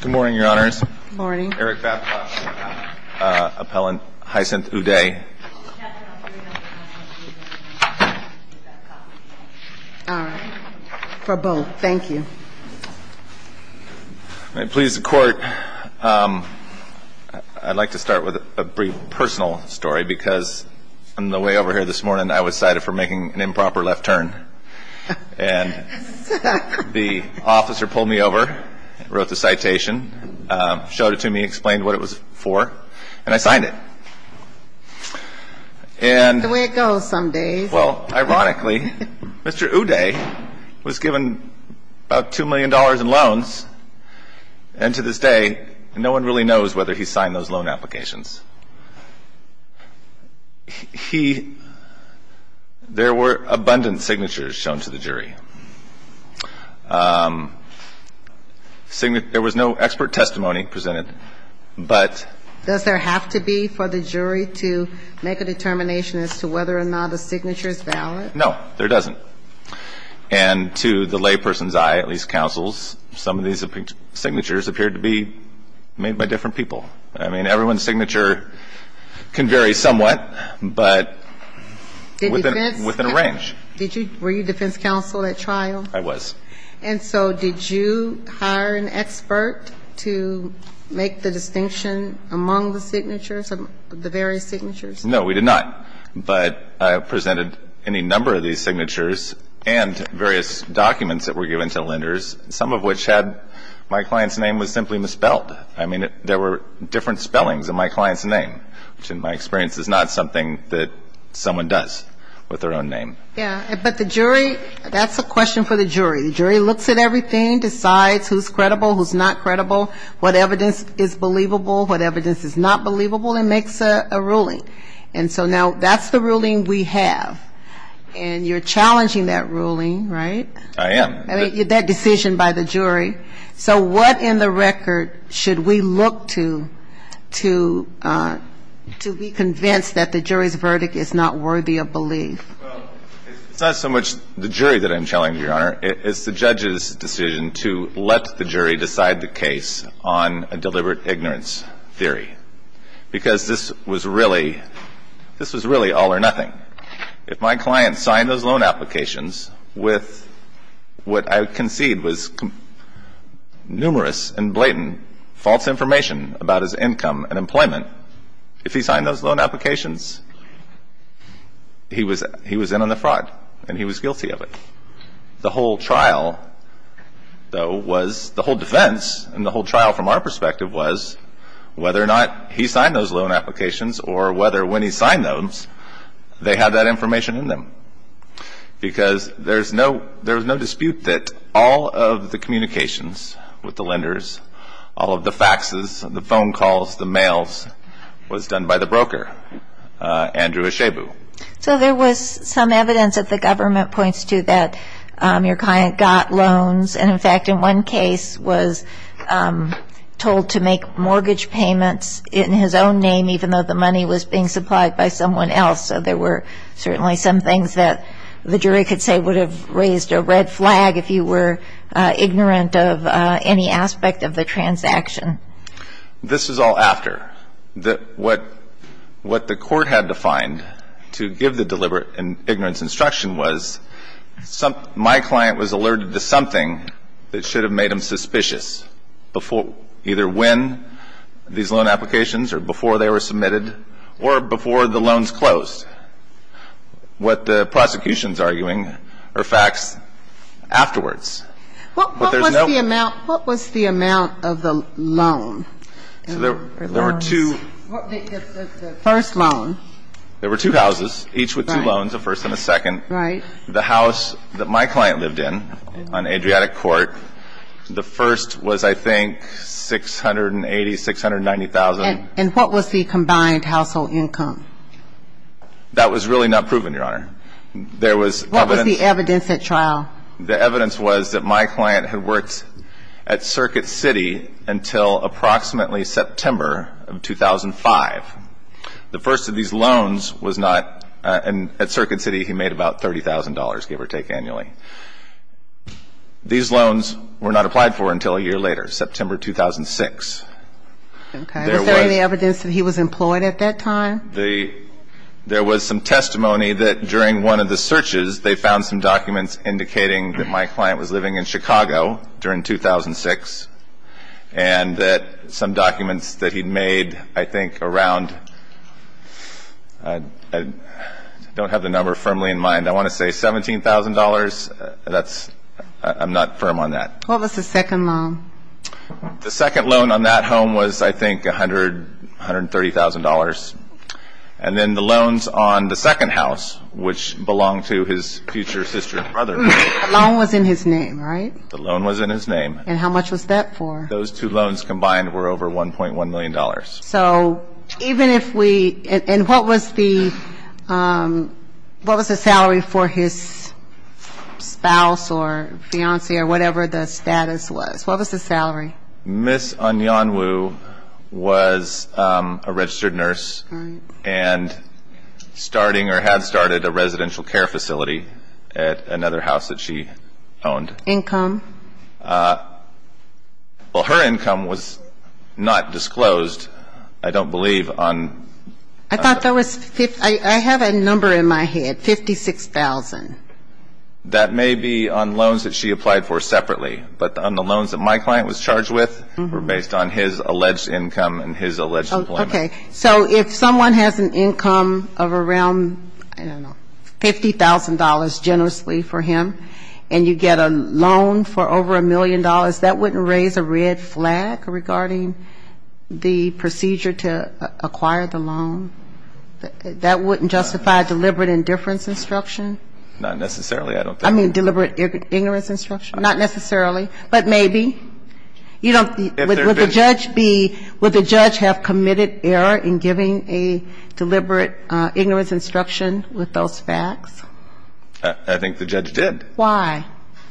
Good morning, Your Honors. Eric Babcock, appellant, Hyacinth O'Day. All right. For both. Thank you. May it please the Court, I'd like to start with a brief personal story because on the way over here this morning I was cited for making an improper left turn. And the officer pulled me over, wrote the citation, showed it to me, explained what it was for, and I signed it. That's the way it goes some days. Well, ironically, Mr. O'Day was given about $2 million in loans, and to this day no one really knows whether he signed those loan applications. He — there were abundant signatures shown to the jury. There was no expert testimony presented, but — Does there have to be for the jury to make a determination as to whether or not a signature is valid? No, there doesn't. And to the layperson's eye, at least counsel's, some of these signatures appeared to be made by different people. I mean, everyone's signature can vary somewhat, but within a range. Did you — were you defense counsel at trial? I was. And so did you hire an expert to make the distinction among the signatures, the various signatures? No, we did not. But I presented any number of these signatures and various documents that were given to lenders, some of which had — my client's name was simply misspelled. I mean, there were different spellings in my client's name, which in my experience is not something that someone does with their own name. Yeah. But the jury — that's a question for the jury. The jury looks at everything, decides who's credible, who's not credible, what evidence is believable, what evidence is not believable, and makes a ruling. And so now that's the ruling we have. And you're challenging that ruling, right? I am. That decision by the jury. So what in the record should we look to to be convinced that the jury's verdict is not worthy of belief? Well, it's not so much the jury that I'm challenging, Your Honor. It's the judge's decision to let the jury decide the case on a deliberate ignorance theory. Because this was really — this was really all or nothing. If my client signed those loan applications with what I concede was numerous and blatant false information about his income and employment, if he signed those loan applications, he was in on the fraud and he was guilty of it. The whole trial, though, was — the whole defense in the whole trial from our perspective was whether or not he signed those loan applications or whether when he signed those they had that information in them. Because there's no — there's no dispute that all of the communications with the lenders, all of the faxes, the phone calls, the mails, was done by the broker, Andrew Eshabu. So there was some evidence that the government points to that your client got loans, and in fact in one case was told to make mortgage payments in his own name even though the money was being supplied by someone else. So there were certainly some things that the jury could say would have raised a red flag if you were ignorant of any aspect of the transaction. This was all after. What the court had to find to give the deliberate and ignorance instruction was my client was alerted to something that should have made him suspicious before — either when these loan applications or before they were submitted or before the loans closed. What the prosecution is arguing are facts afterwards. But there's no — What was the amount of the loan? So there were two — The first loan. There were two houses, each with two loans, a first and a second. Right. The house that my client lived in on Adriatic Court, the first was, I think, 680,000, 690,000. And what was the combined household income? That was really not proven, Your Honor. There was evidence — What was the evidence at trial? The evidence was that my client had worked at Circuit City until approximately September of 2005. The first of these loans was not — at Circuit City, he made about $30,000, give or take annually. These loans were not applied for until a year later, September 2006. Okay. Was there any evidence that he was employed at that time? There was some testimony that during one of the searches, they found some documents indicating that my client was living in Chicago during 2006 and that some documents that he'd made, I think, around — I don't have the number firmly in mind. I want to say $17,000. That's — I'm not firm on that. What was the second loan? The second loan on that home was, I think, $130,000. And then the loans on the second house, which belonged to his future sister and brother — The loan was in his name, right? The loan was in his name. And how much was that for? Those two loans combined were over $1.1 million. So even if we — and what was the — what was the salary for his spouse or fiancée or whatever the status was? What was the salary? Ms. Anyanwu was a registered nurse and starting or had started a residential care facility at another house that she owned. Income? Well, her income was not disclosed, I don't believe, on — I thought that was — I have a number in my head, $56,000. That may be on loans that she applied for separately. But on the loans that my client was charged with were based on his alleged income and his alleged employment. Okay. So if someone has an income of around, I don't know, $50,000 generously for him and you get a loan for over $1 million, that wouldn't raise a red flag regarding the procedure to acquire the loan? That wouldn't justify deliberate indifference instruction? Not necessarily, I don't think. I mean deliberate ignorance instruction? Not necessarily, but maybe. You don't — If there had been — Would the judge be — would the judge have committed error in giving a deliberate ignorance instruction with those facts? I think the judge did. Why?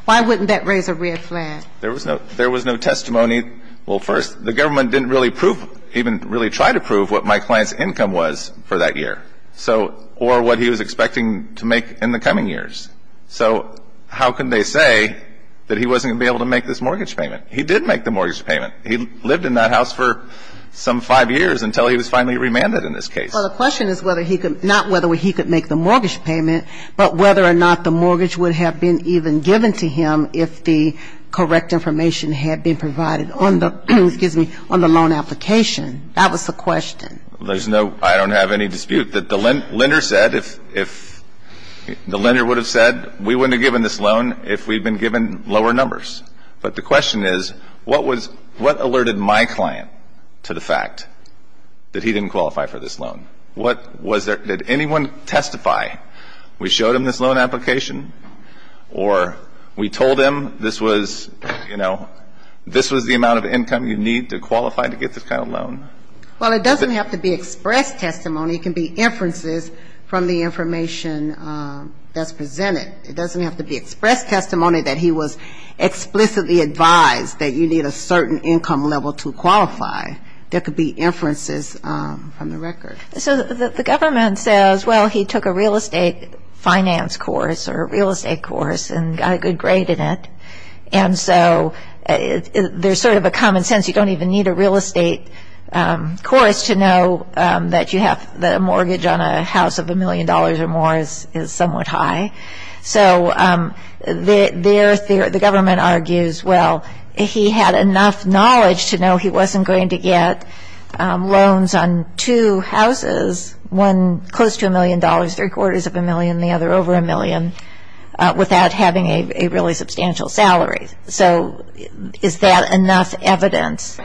Why wouldn't that raise a red flag? There was no — there was no testimony. Well, first, the government didn't really prove — even really try to prove what my client's income was for that year. So — or what he was expecting to make in the coming years. So how can they say that he wasn't going to be able to make this mortgage payment? He did make the mortgage payment. He lived in that house for some five years until he was finally remanded in this case. Well, the question is whether he could — not whether he could make the mortgage payment, but whether or not the mortgage would have been even given to him if the correct information had been provided on the — excuse me — on the loan application. That was the question. There's no — I don't have any dispute that the lender said if — if the lender would have said we wouldn't have given this loan if we'd been given lower numbers. But the question is what was — what alerted my client to the fact that he didn't qualify for this loan? What was there — did anyone testify? We showed him this loan application or we told him this was, you know, this was the Well, it doesn't have to be expressed testimony. It can be inferences from the information that's presented. It doesn't have to be expressed testimony that he was explicitly advised that you need a certain income level to qualify. There could be inferences from the record. So the government says, well, he took a real estate finance course or a real estate course and got a good grade in it. And so there's sort of a common sense. You don't even need a real estate course to know that you have — that a mortgage on a house of a million dollars or more is somewhat high. So the government argues, well, he had enough knowledge to know he wasn't going to get loans on two houses, one close to a million dollars, three-quarters of a million, the other over a million, without having a really substantial salary. So is that enough evidence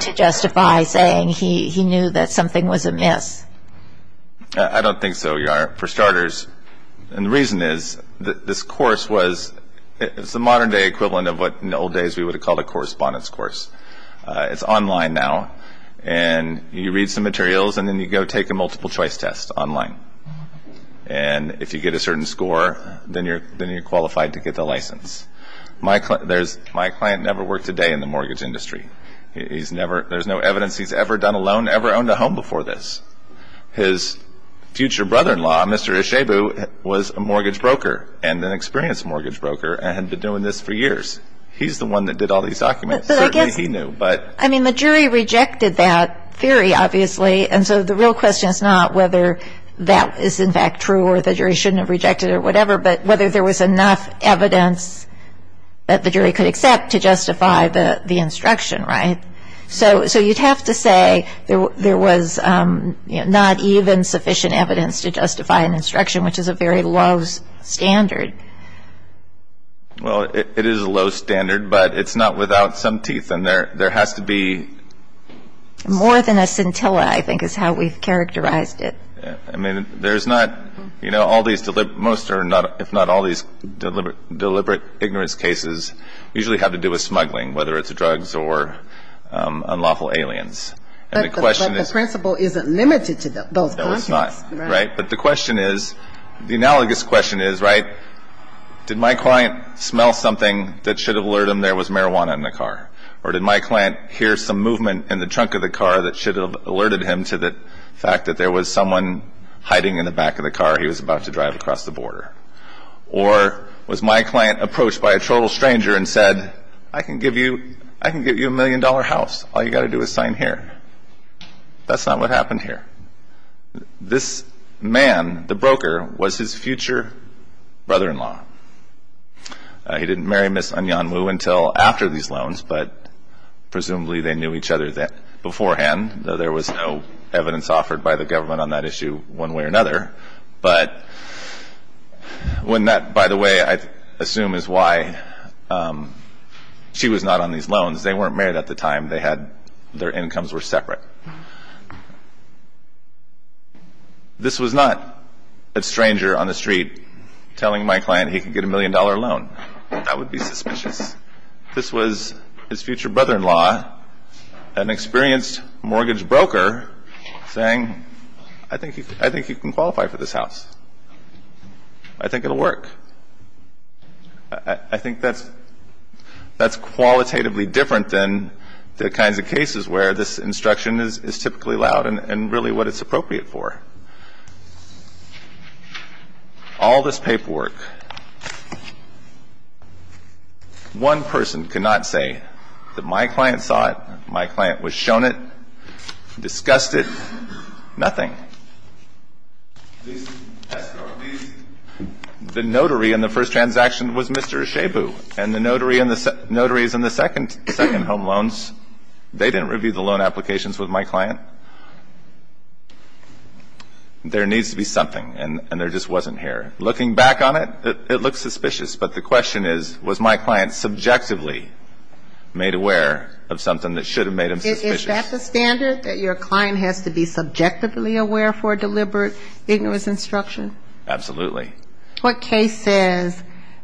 to justify saying he knew that something was amiss? I don't think so, Your Honor, for starters. And the reason is this course was — it's the modern-day equivalent of what in the old days we would have called a correspondence course. It's online now. And you read some materials and then you go take a multiple-choice test online. And if you get a certain score, then you're qualified to get the license. My client never worked a day in the mortgage industry. He's never — there's no evidence he's ever done a loan, ever owned a home before this. His future brother-in-law, Mr. Ishebu, was a mortgage broker and an experienced mortgage broker and had been doing this for years. He's the one that did all these documents. Certainly he knew, but — But I guess — I mean, the jury rejected that theory, obviously. And so the real question is not whether that is, in fact, true or the jury shouldn't have rejected it or whatever, but whether there was enough evidence that the jury could accept to justify the instruction, right? So you'd have to say there was not even sufficient evidence to justify an instruction, which is a very low standard. Well, it is a low standard, but it's not without some teeth, and there has to be — I think that's how we've characterized it. I mean, there's not — you know, all these — most or if not all these deliberate ignorance cases usually have to do with smuggling, whether it's drugs or unlawful aliens. And the question is — But the principle isn't limited to both contexts, right? No, it's not, right? But the question is — the analogous question is, right, did my client smell something that should have alerted him there was marijuana in the car? Or did my client hear some movement in the trunk of the car that should have alerted him to the fact that there was someone hiding in the back of the car he was about to drive across the border? Or was my client approached by a total stranger and said, I can give you a million-dollar house, all you've got to do is sign here? That's not what happened here. This man, the broker, was his future brother-in-law. He didn't marry Ms. Anyanmu until after these loans, but presumably they knew each other beforehand, though there was no evidence offered by the government on that issue one way or another. But when that — by the way, I assume is why she was not on these loans. They weren't married at the time. They had — their incomes were separate. This was not a stranger on the street telling my client he could get a million-dollar loan. That would be suspicious. This was his future brother-in-law, an experienced mortgage broker, saying, I think you can qualify for this house. I think it will work. I think that's qualitatively different than the kinds of cases where this instruction is not effective. This instruction is typically loud and really what it's appropriate for. All this paperwork, one person cannot say that my client saw it, my client was shown it, discussed it, nothing. The notary in the first transaction was Mr. Shabu, and the notaries in the second home loans, they didn't review the loan applications with my client. There needs to be something, and there just wasn't here. Looking back on it, it looks suspicious. But the question is, was my client subjectively made aware of something that should have made him suspicious? Is that the standard, that your client has to be subjectively aware for a deliberate, ignorance instruction? Absolutely. What case says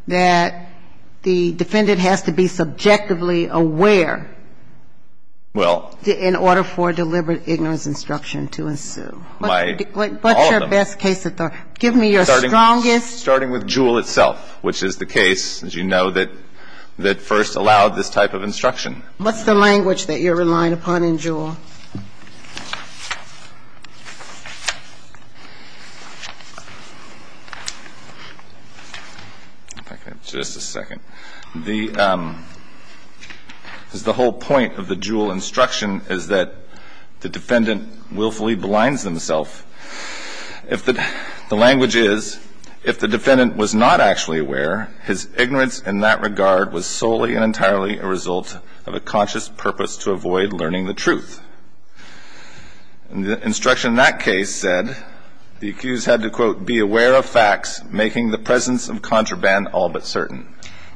that the defendant has to be subjectively aware in order for a deliberate, ignorance instruction to ensue? All of them. Give me your strongest. Starting with Juul itself, which is the case, as you know, that first allowed this type of instruction. What's the language that you're relying upon in Juul? Just a second. The whole point of the Juul instruction is that the defendant willfully blinds themself. The language is, if the defendant was not actually aware, his ignorance in that regard was solely and entirely a result of a conscious purpose to avoid learning the truth. The instruction in that case said the accused had to, quote, be aware of facts making the presence of contraband all but certain.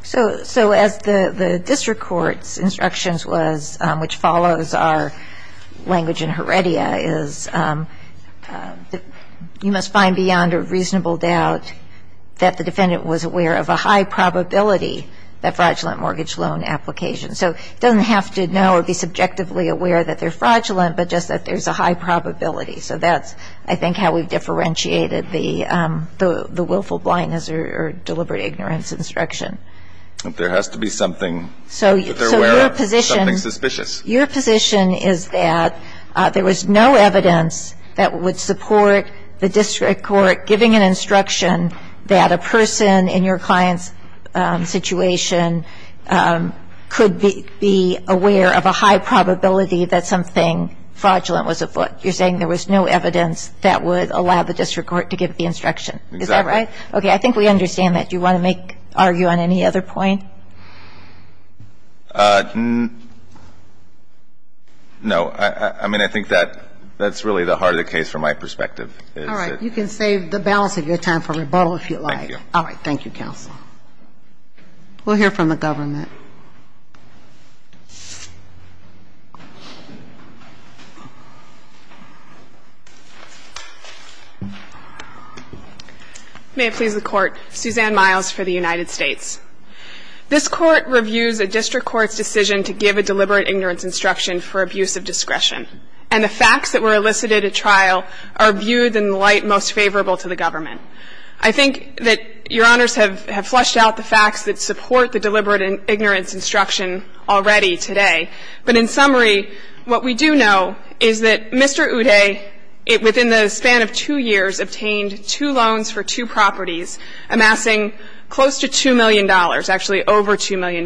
So as the district court's instructions was, which follows our language in Heredia, is you must find beyond a reasonable doubt that the defendant was aware of a high probability that fraudulent mortgage loan application. So it doesn't have to know or be subjectively aware that they're fraudulent, but just that there's a high probability. So that's, I think, how we've differentiated the willful blindness or deliberate ignorance instruction. But there has to be something that they're aware of, something suspicious. So your position is that there was no evidence that would support the district court giving an instruction that a person in your client's situation could be aware of a high probability that something fraudulent was afoot. You're saying there was no evidence that would allow the district court to give the instruction. Is that right? Exactly. Okay. I think we understand that. Do you want to make, argue on any other point? No. All right. You can save the balance of your time for rebuttal if you like. Thank you. All right. Thank you, counsel. We'll hear from the government. May it please the Court. Suzanne Miles for the United States. This Court reviews a district court's decision to give a deliberate ignorance instruction for abuse of discretion. And the facts that were elicited at trial are viewed in the light most favorable to the government. I think that Your Honors have flushed out the facts that support the deliberate ignorance instruction already today. But in summary, what we do know is that Mr. Uday, within the span of two years, obtained two loans for two properties amassing close to $2 million, actually over $2 million.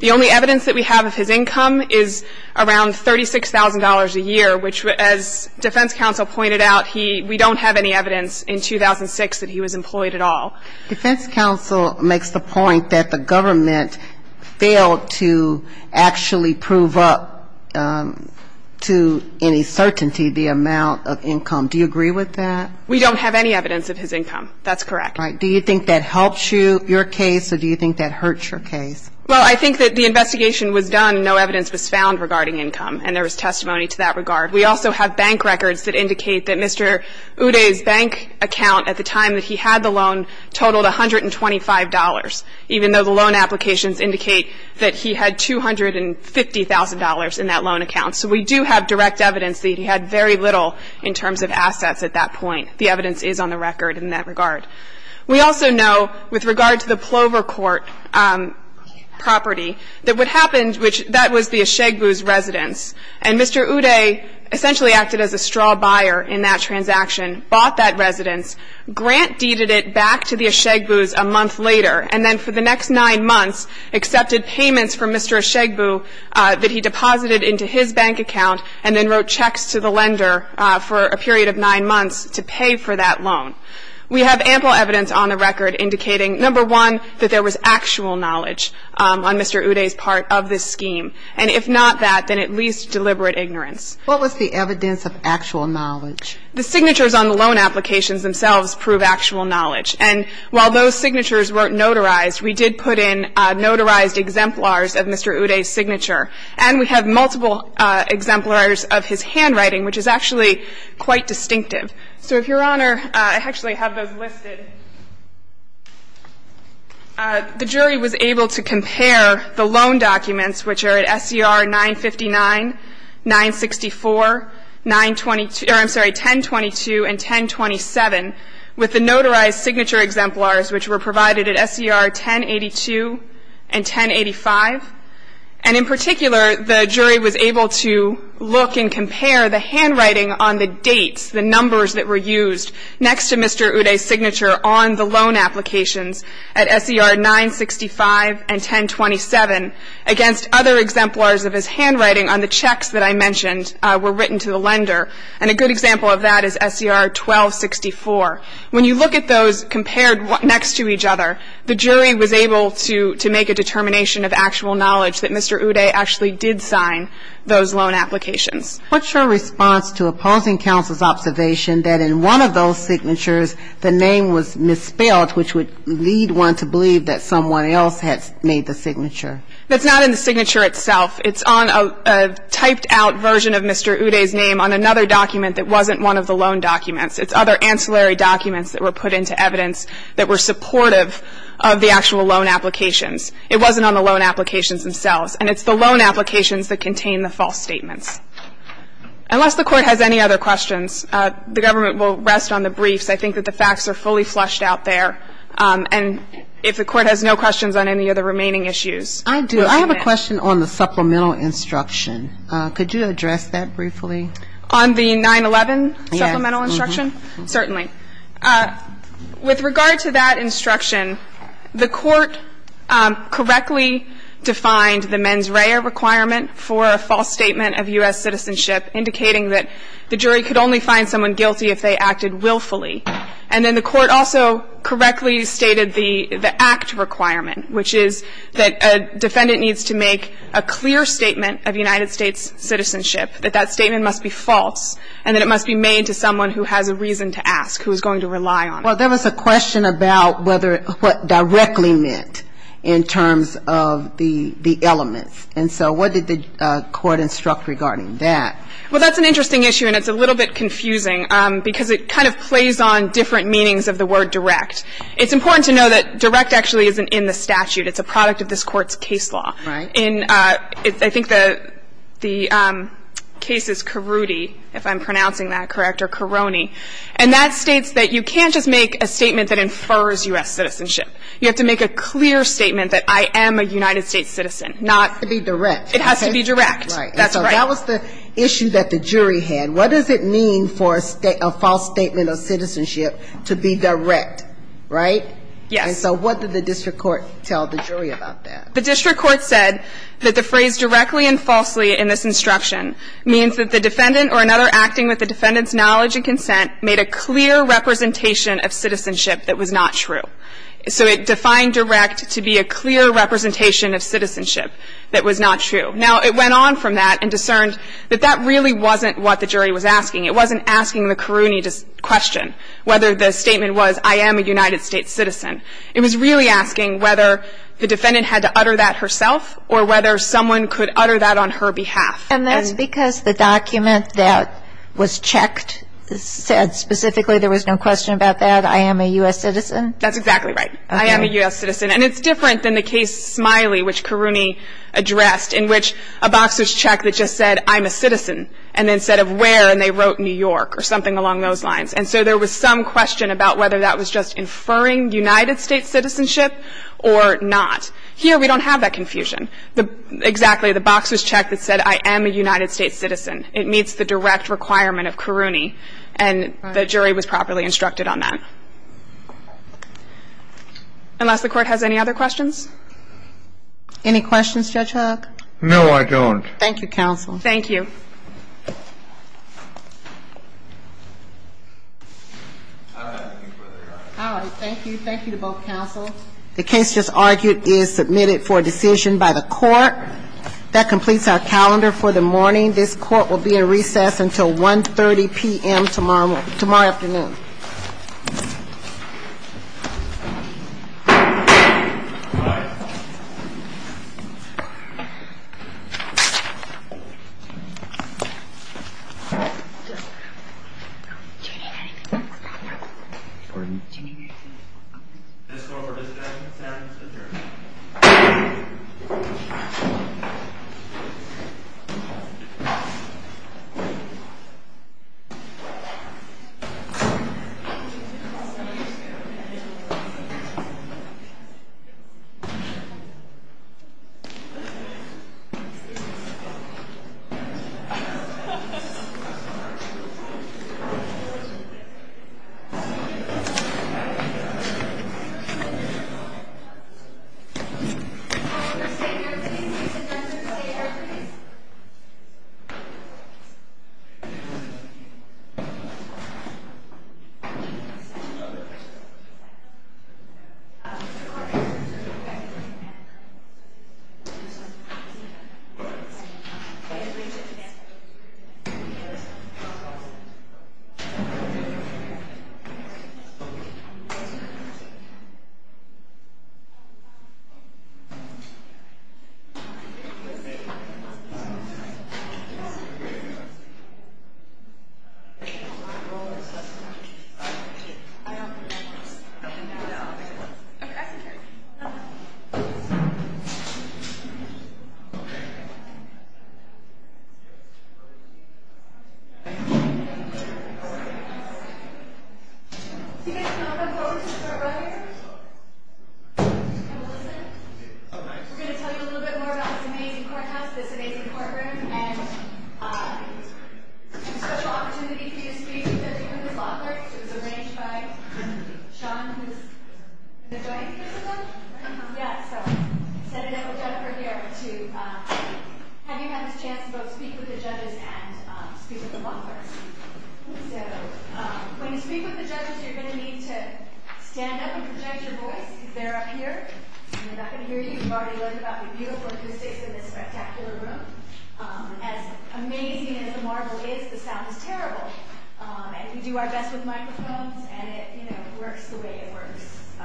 The only evidence that we have of his income is around $36,000 a year, which as defense counsel pointed out, we don't have any evidence in 2006 that he was employed at all. Defense counsel makes the point that the government failed to actually prove up to any certainty the amount of income. Do you agree with that? We don't have any evidence of his income. That's correct. Do you think that helps you, your case, or do you think that hurts your case? Well, I think that the investigation was done and no evidence was found regarding income, and there was testimony to that regard. We also have bank records that indicate that Mr. Uday's bank account at the time that he had the loan totaled $125, even though the loan applications indicate that he had $250,000 in that loan account. So we do have direct evidence that he had very little in terms of assets at that point. The evidence is on the record in that regard. We also know with regard to the Plover Court property that what happened, which that was the Eshagbu's residence, and Mr. Uday essentially acted as a straw buyer in that transaction, bought that residence, grant deeded it back to the Eshagbu's a month later, and then for the next nine months accepted payments from Mr. Eshagbu that he deposited into his bank account and then wrote checks to the lender for a period of nine months to pay for that loan. We have ample evidence on the record indicating, number one, that there was actual knowledge on Mr. Uday's part of this scheme. And if not that, then at least deliberate ignorance. What was the evidence of actual knowledge? The signatures on the loan applications themselves prove actual knowledge. And while those signatures weren't notarized, we did put in notarized exemplars of Mr. Uday's signature, and we have multiple exemplars of his handwriting, which is actually quite distinctive. So, Your Honor, I actually have those listed. The jury was able to compare the loan documents, which are at SCR 959, 964, 922 or, I'm sorry, 1022 and 1027, with the notarized signature exemplars, which were provided at SCR 1082 and 1085. And, in particular, the jury was able to look and compare the handwriting on the dates, the numbers that were used next to Mr. Uday's signature on the loan applications at SCR 965 and 1027 against other exemplars of his handwriting on the checks that I mentioned were written to the lender. And a good example of that is SCR 1264. When you look at those compared next to each other, the jury was able to make a conclusive knowledge that Mr. Uday actually did sign those loan applications. What's your response to opposing counsel's observation that in one of those signatures the name was misspelled, which would lead one to believe that someone else had made the signature? That's not in the signature itself. It's on a typed-out version of Mr. Uday's name on another document that wasn't one of the loan documents. It's other ancillary documents that were put into evidence that were supportive of the actual loan applications. It wasn't on the loan applications themselves. And it's the loan applications that contain the false statements. Unless the Court has any other questions, the government will rest on the briefs. I think that the facts are fully flushed out there. And if the Court has no questions on any of the remaining issues. I do. I have a question on the supplemental instruction. Could you address that briefly? On the 911 supplemental instruction? Certainly. With regard to that instruction, the Court correctly defined the mens rea requirement for a false statement of U.S. citizenship, indicating that the jury could only find someone guilty if they acted willfully. And then the Court also correctly stated the act requirement, which is that a defendant needs to make a clear statement of United States citizenship, that that statement must be false, and that it must be made to someone who has a reason to ask, who is going to rely on it. Well, there was a question about what directly meant in terms of the elements. And so what did the Court instruct regarding that? Well, that's an interesting issue, and it's a little bit confusing, because it kind of plays on different meanings of the word direct. It's important to know that direct actually isn't in the statute. It's a product of this Court's case law. Right. I think the case is Carudi, if I'm pronouncing that correct, or Caroni. And that states that you can't just make a statement that infers U.S. citizenship. You have to make a clear statement that I am a United States citizen. It has to be direct. It has to be direct. Right. And so that was the issue that the jury had. What does it mean for a false statement of citizenship to be direct, right? Yes. And so what did the district court tell the jury about that? The district court said that the phrase directly and falsely in this instruction means that the defendant or another acting with the defendant's knowledge and consent made a clear representation of citizenship that was not true. So it defined direct to be a clear representation of citizenship that was not true. Now, it went on from that and discerned that that really wasn't what the jury was asking. It wasn't asking the Caroni question, whether the statement was, I am a United States citizen. It was really asking whether the defendant had to utter that herself or whether someone could utter that on her behalf. And that's because the document that was checked said specifically there was no question about that, I am a U.S. citizen? That's exactly right. I am a U.S. citizen. And it's different than the case Smiley, which Caroni addressed, in which a box was checked that just said I'm a citizen and then said of where and they wrote New York or something along those lines. And so there was some question about whether that was just inferring United States citizenship or not. Here we don't have that confusion. Exactly. The box was checked that said I am a United States citizen. It meets the direct requirement of Caroni. And the jury was properly instructed on that. Unless the Court has any other questions? Any questions, Judge Huck? No, I don't. Thank you, counsel. Thank you. All right. Thank you. Thank you to both counsel. The case just argued is submitted for decision by the Court. That completes our calendar for the morning. This Court will be in recess until 1.30 p.m. tomorrow afternoon. Thank you. Thank you. Thank you. Do you guys know if I'm going to start right here? Can we listen? Okay. We're going to tell you a little bit more about this amazing courthouse, this amazing courtroom, and a special opportunity for you to speak with the judges and the law clerks. It was arranged by Sean, who is the judge, is it? Uh-huh. Yeah, so. Senator Jennifer here to have you have this chance to both speak with the judges and speak with the law clerks. So, when you speak with the judges, you're going to need to stand up and project your voice, because they're up here, and they're not going to hear you. You've already learned about the beautiful acoustics in this spectacular room. As amazing as the marble is, the sound is terrible. And we do our best with microphones, and it, you know, works the way it works,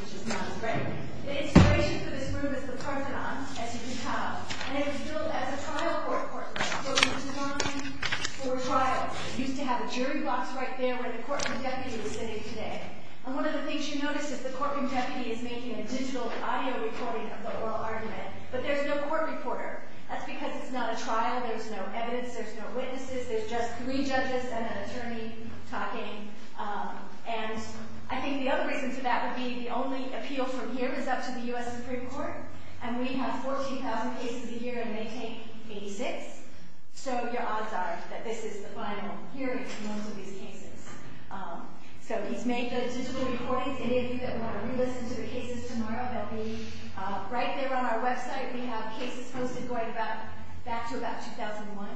which is not as great. The inspiration for this room is the Parthenon, as you can tell. And it was built as a trial court courtroom. So, it was designed for a trial. It used to have a jury box right there where the courtroom deputy was sitting today. And one of the things you notice is the courtroom deputy is making a digital audio recording of the oral argument, but there's no court reporter. That's because it's not a trial. There's no evidence. There's no witnesses. There's just three judges and an attorney talking. And I think the other reason for that would be the only appeal from here is up to the U.S. Supreme Court, and we have 14,000 cases a year, and they take 86. So, your odds are that this is the final hearing for most of these cases. So, he's made the digital recordings. Any of you that want to re-listen to the cases tomorrow, they'll be right there on our website. We have cases posted going back to about 2001.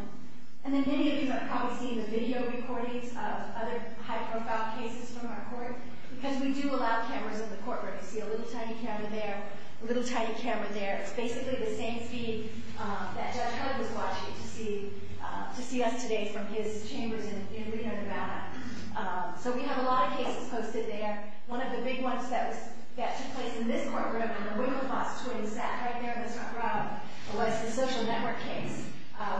And then many of you have probably seen the video recordings of other high-profile cases from our court because we do allow cameras in the courtroom. You see a little tiny camera there, a little tiny camera there. It's basically the same feed that Judge Hudd was watching to see us today from his chambers in Reno, Nevada. So, we have a lot of cases posted there. One of the big ones that took place in this courtroom, in the room of the prostitutes, sat right there in the front row, was the social network case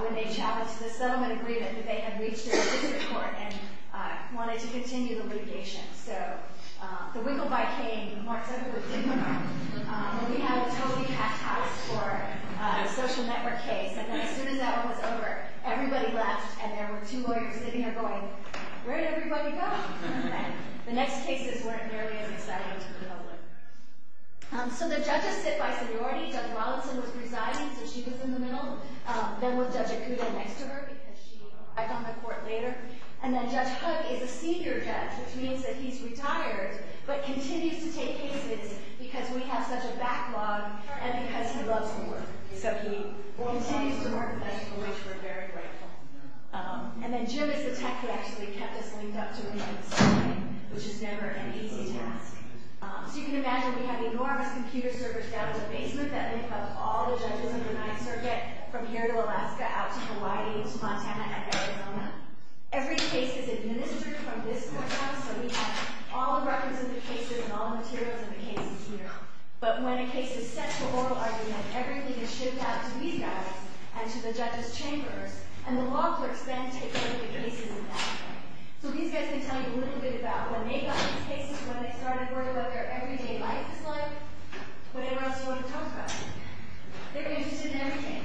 when they challenged the settlement agreement that they had reached in the district court and wanted to continue the litigation. So, the wiggle bike came and marked everyone. And we had a totally packed house for a social network case. And as soon as that one was over, everybody left and there were two lawyers sitting there going, where did everybody go? And the next cases weren't nearly as exciting to the public. So, the judges sit by seniority. Judge Rollinson was residing, so she was in the middle. Then was Judge Acuda next to her because she arrived on the court later. And then Judge Hudd is a senior judge, which means that he's retired, but continues to take cases because we have such a backlog and because he loves the work. So, he continues to work with us, for which we're very grateful. And then Jim is the tech. He actually kept us linked up to him, which is never an easy task. So, you can imagine, we have enormous computer servers down in the basement that link up all the judges in the Ninth Circuit from here to Alaska, out to Hawaii, to Montana, and Arizona. Every case is administered from this courthouse, so we have all the records of the cases and all the materials of the cases here. But when a case is sent to oral argument, everything is shipped out to these guys and to the judges' chambers, and the law clerks then take care of the cases in that way. So, these guys can tell you a little bit about when they got these cases, when they started, what their everyday life is like, whatever else you want to talk about. They're interested in everything.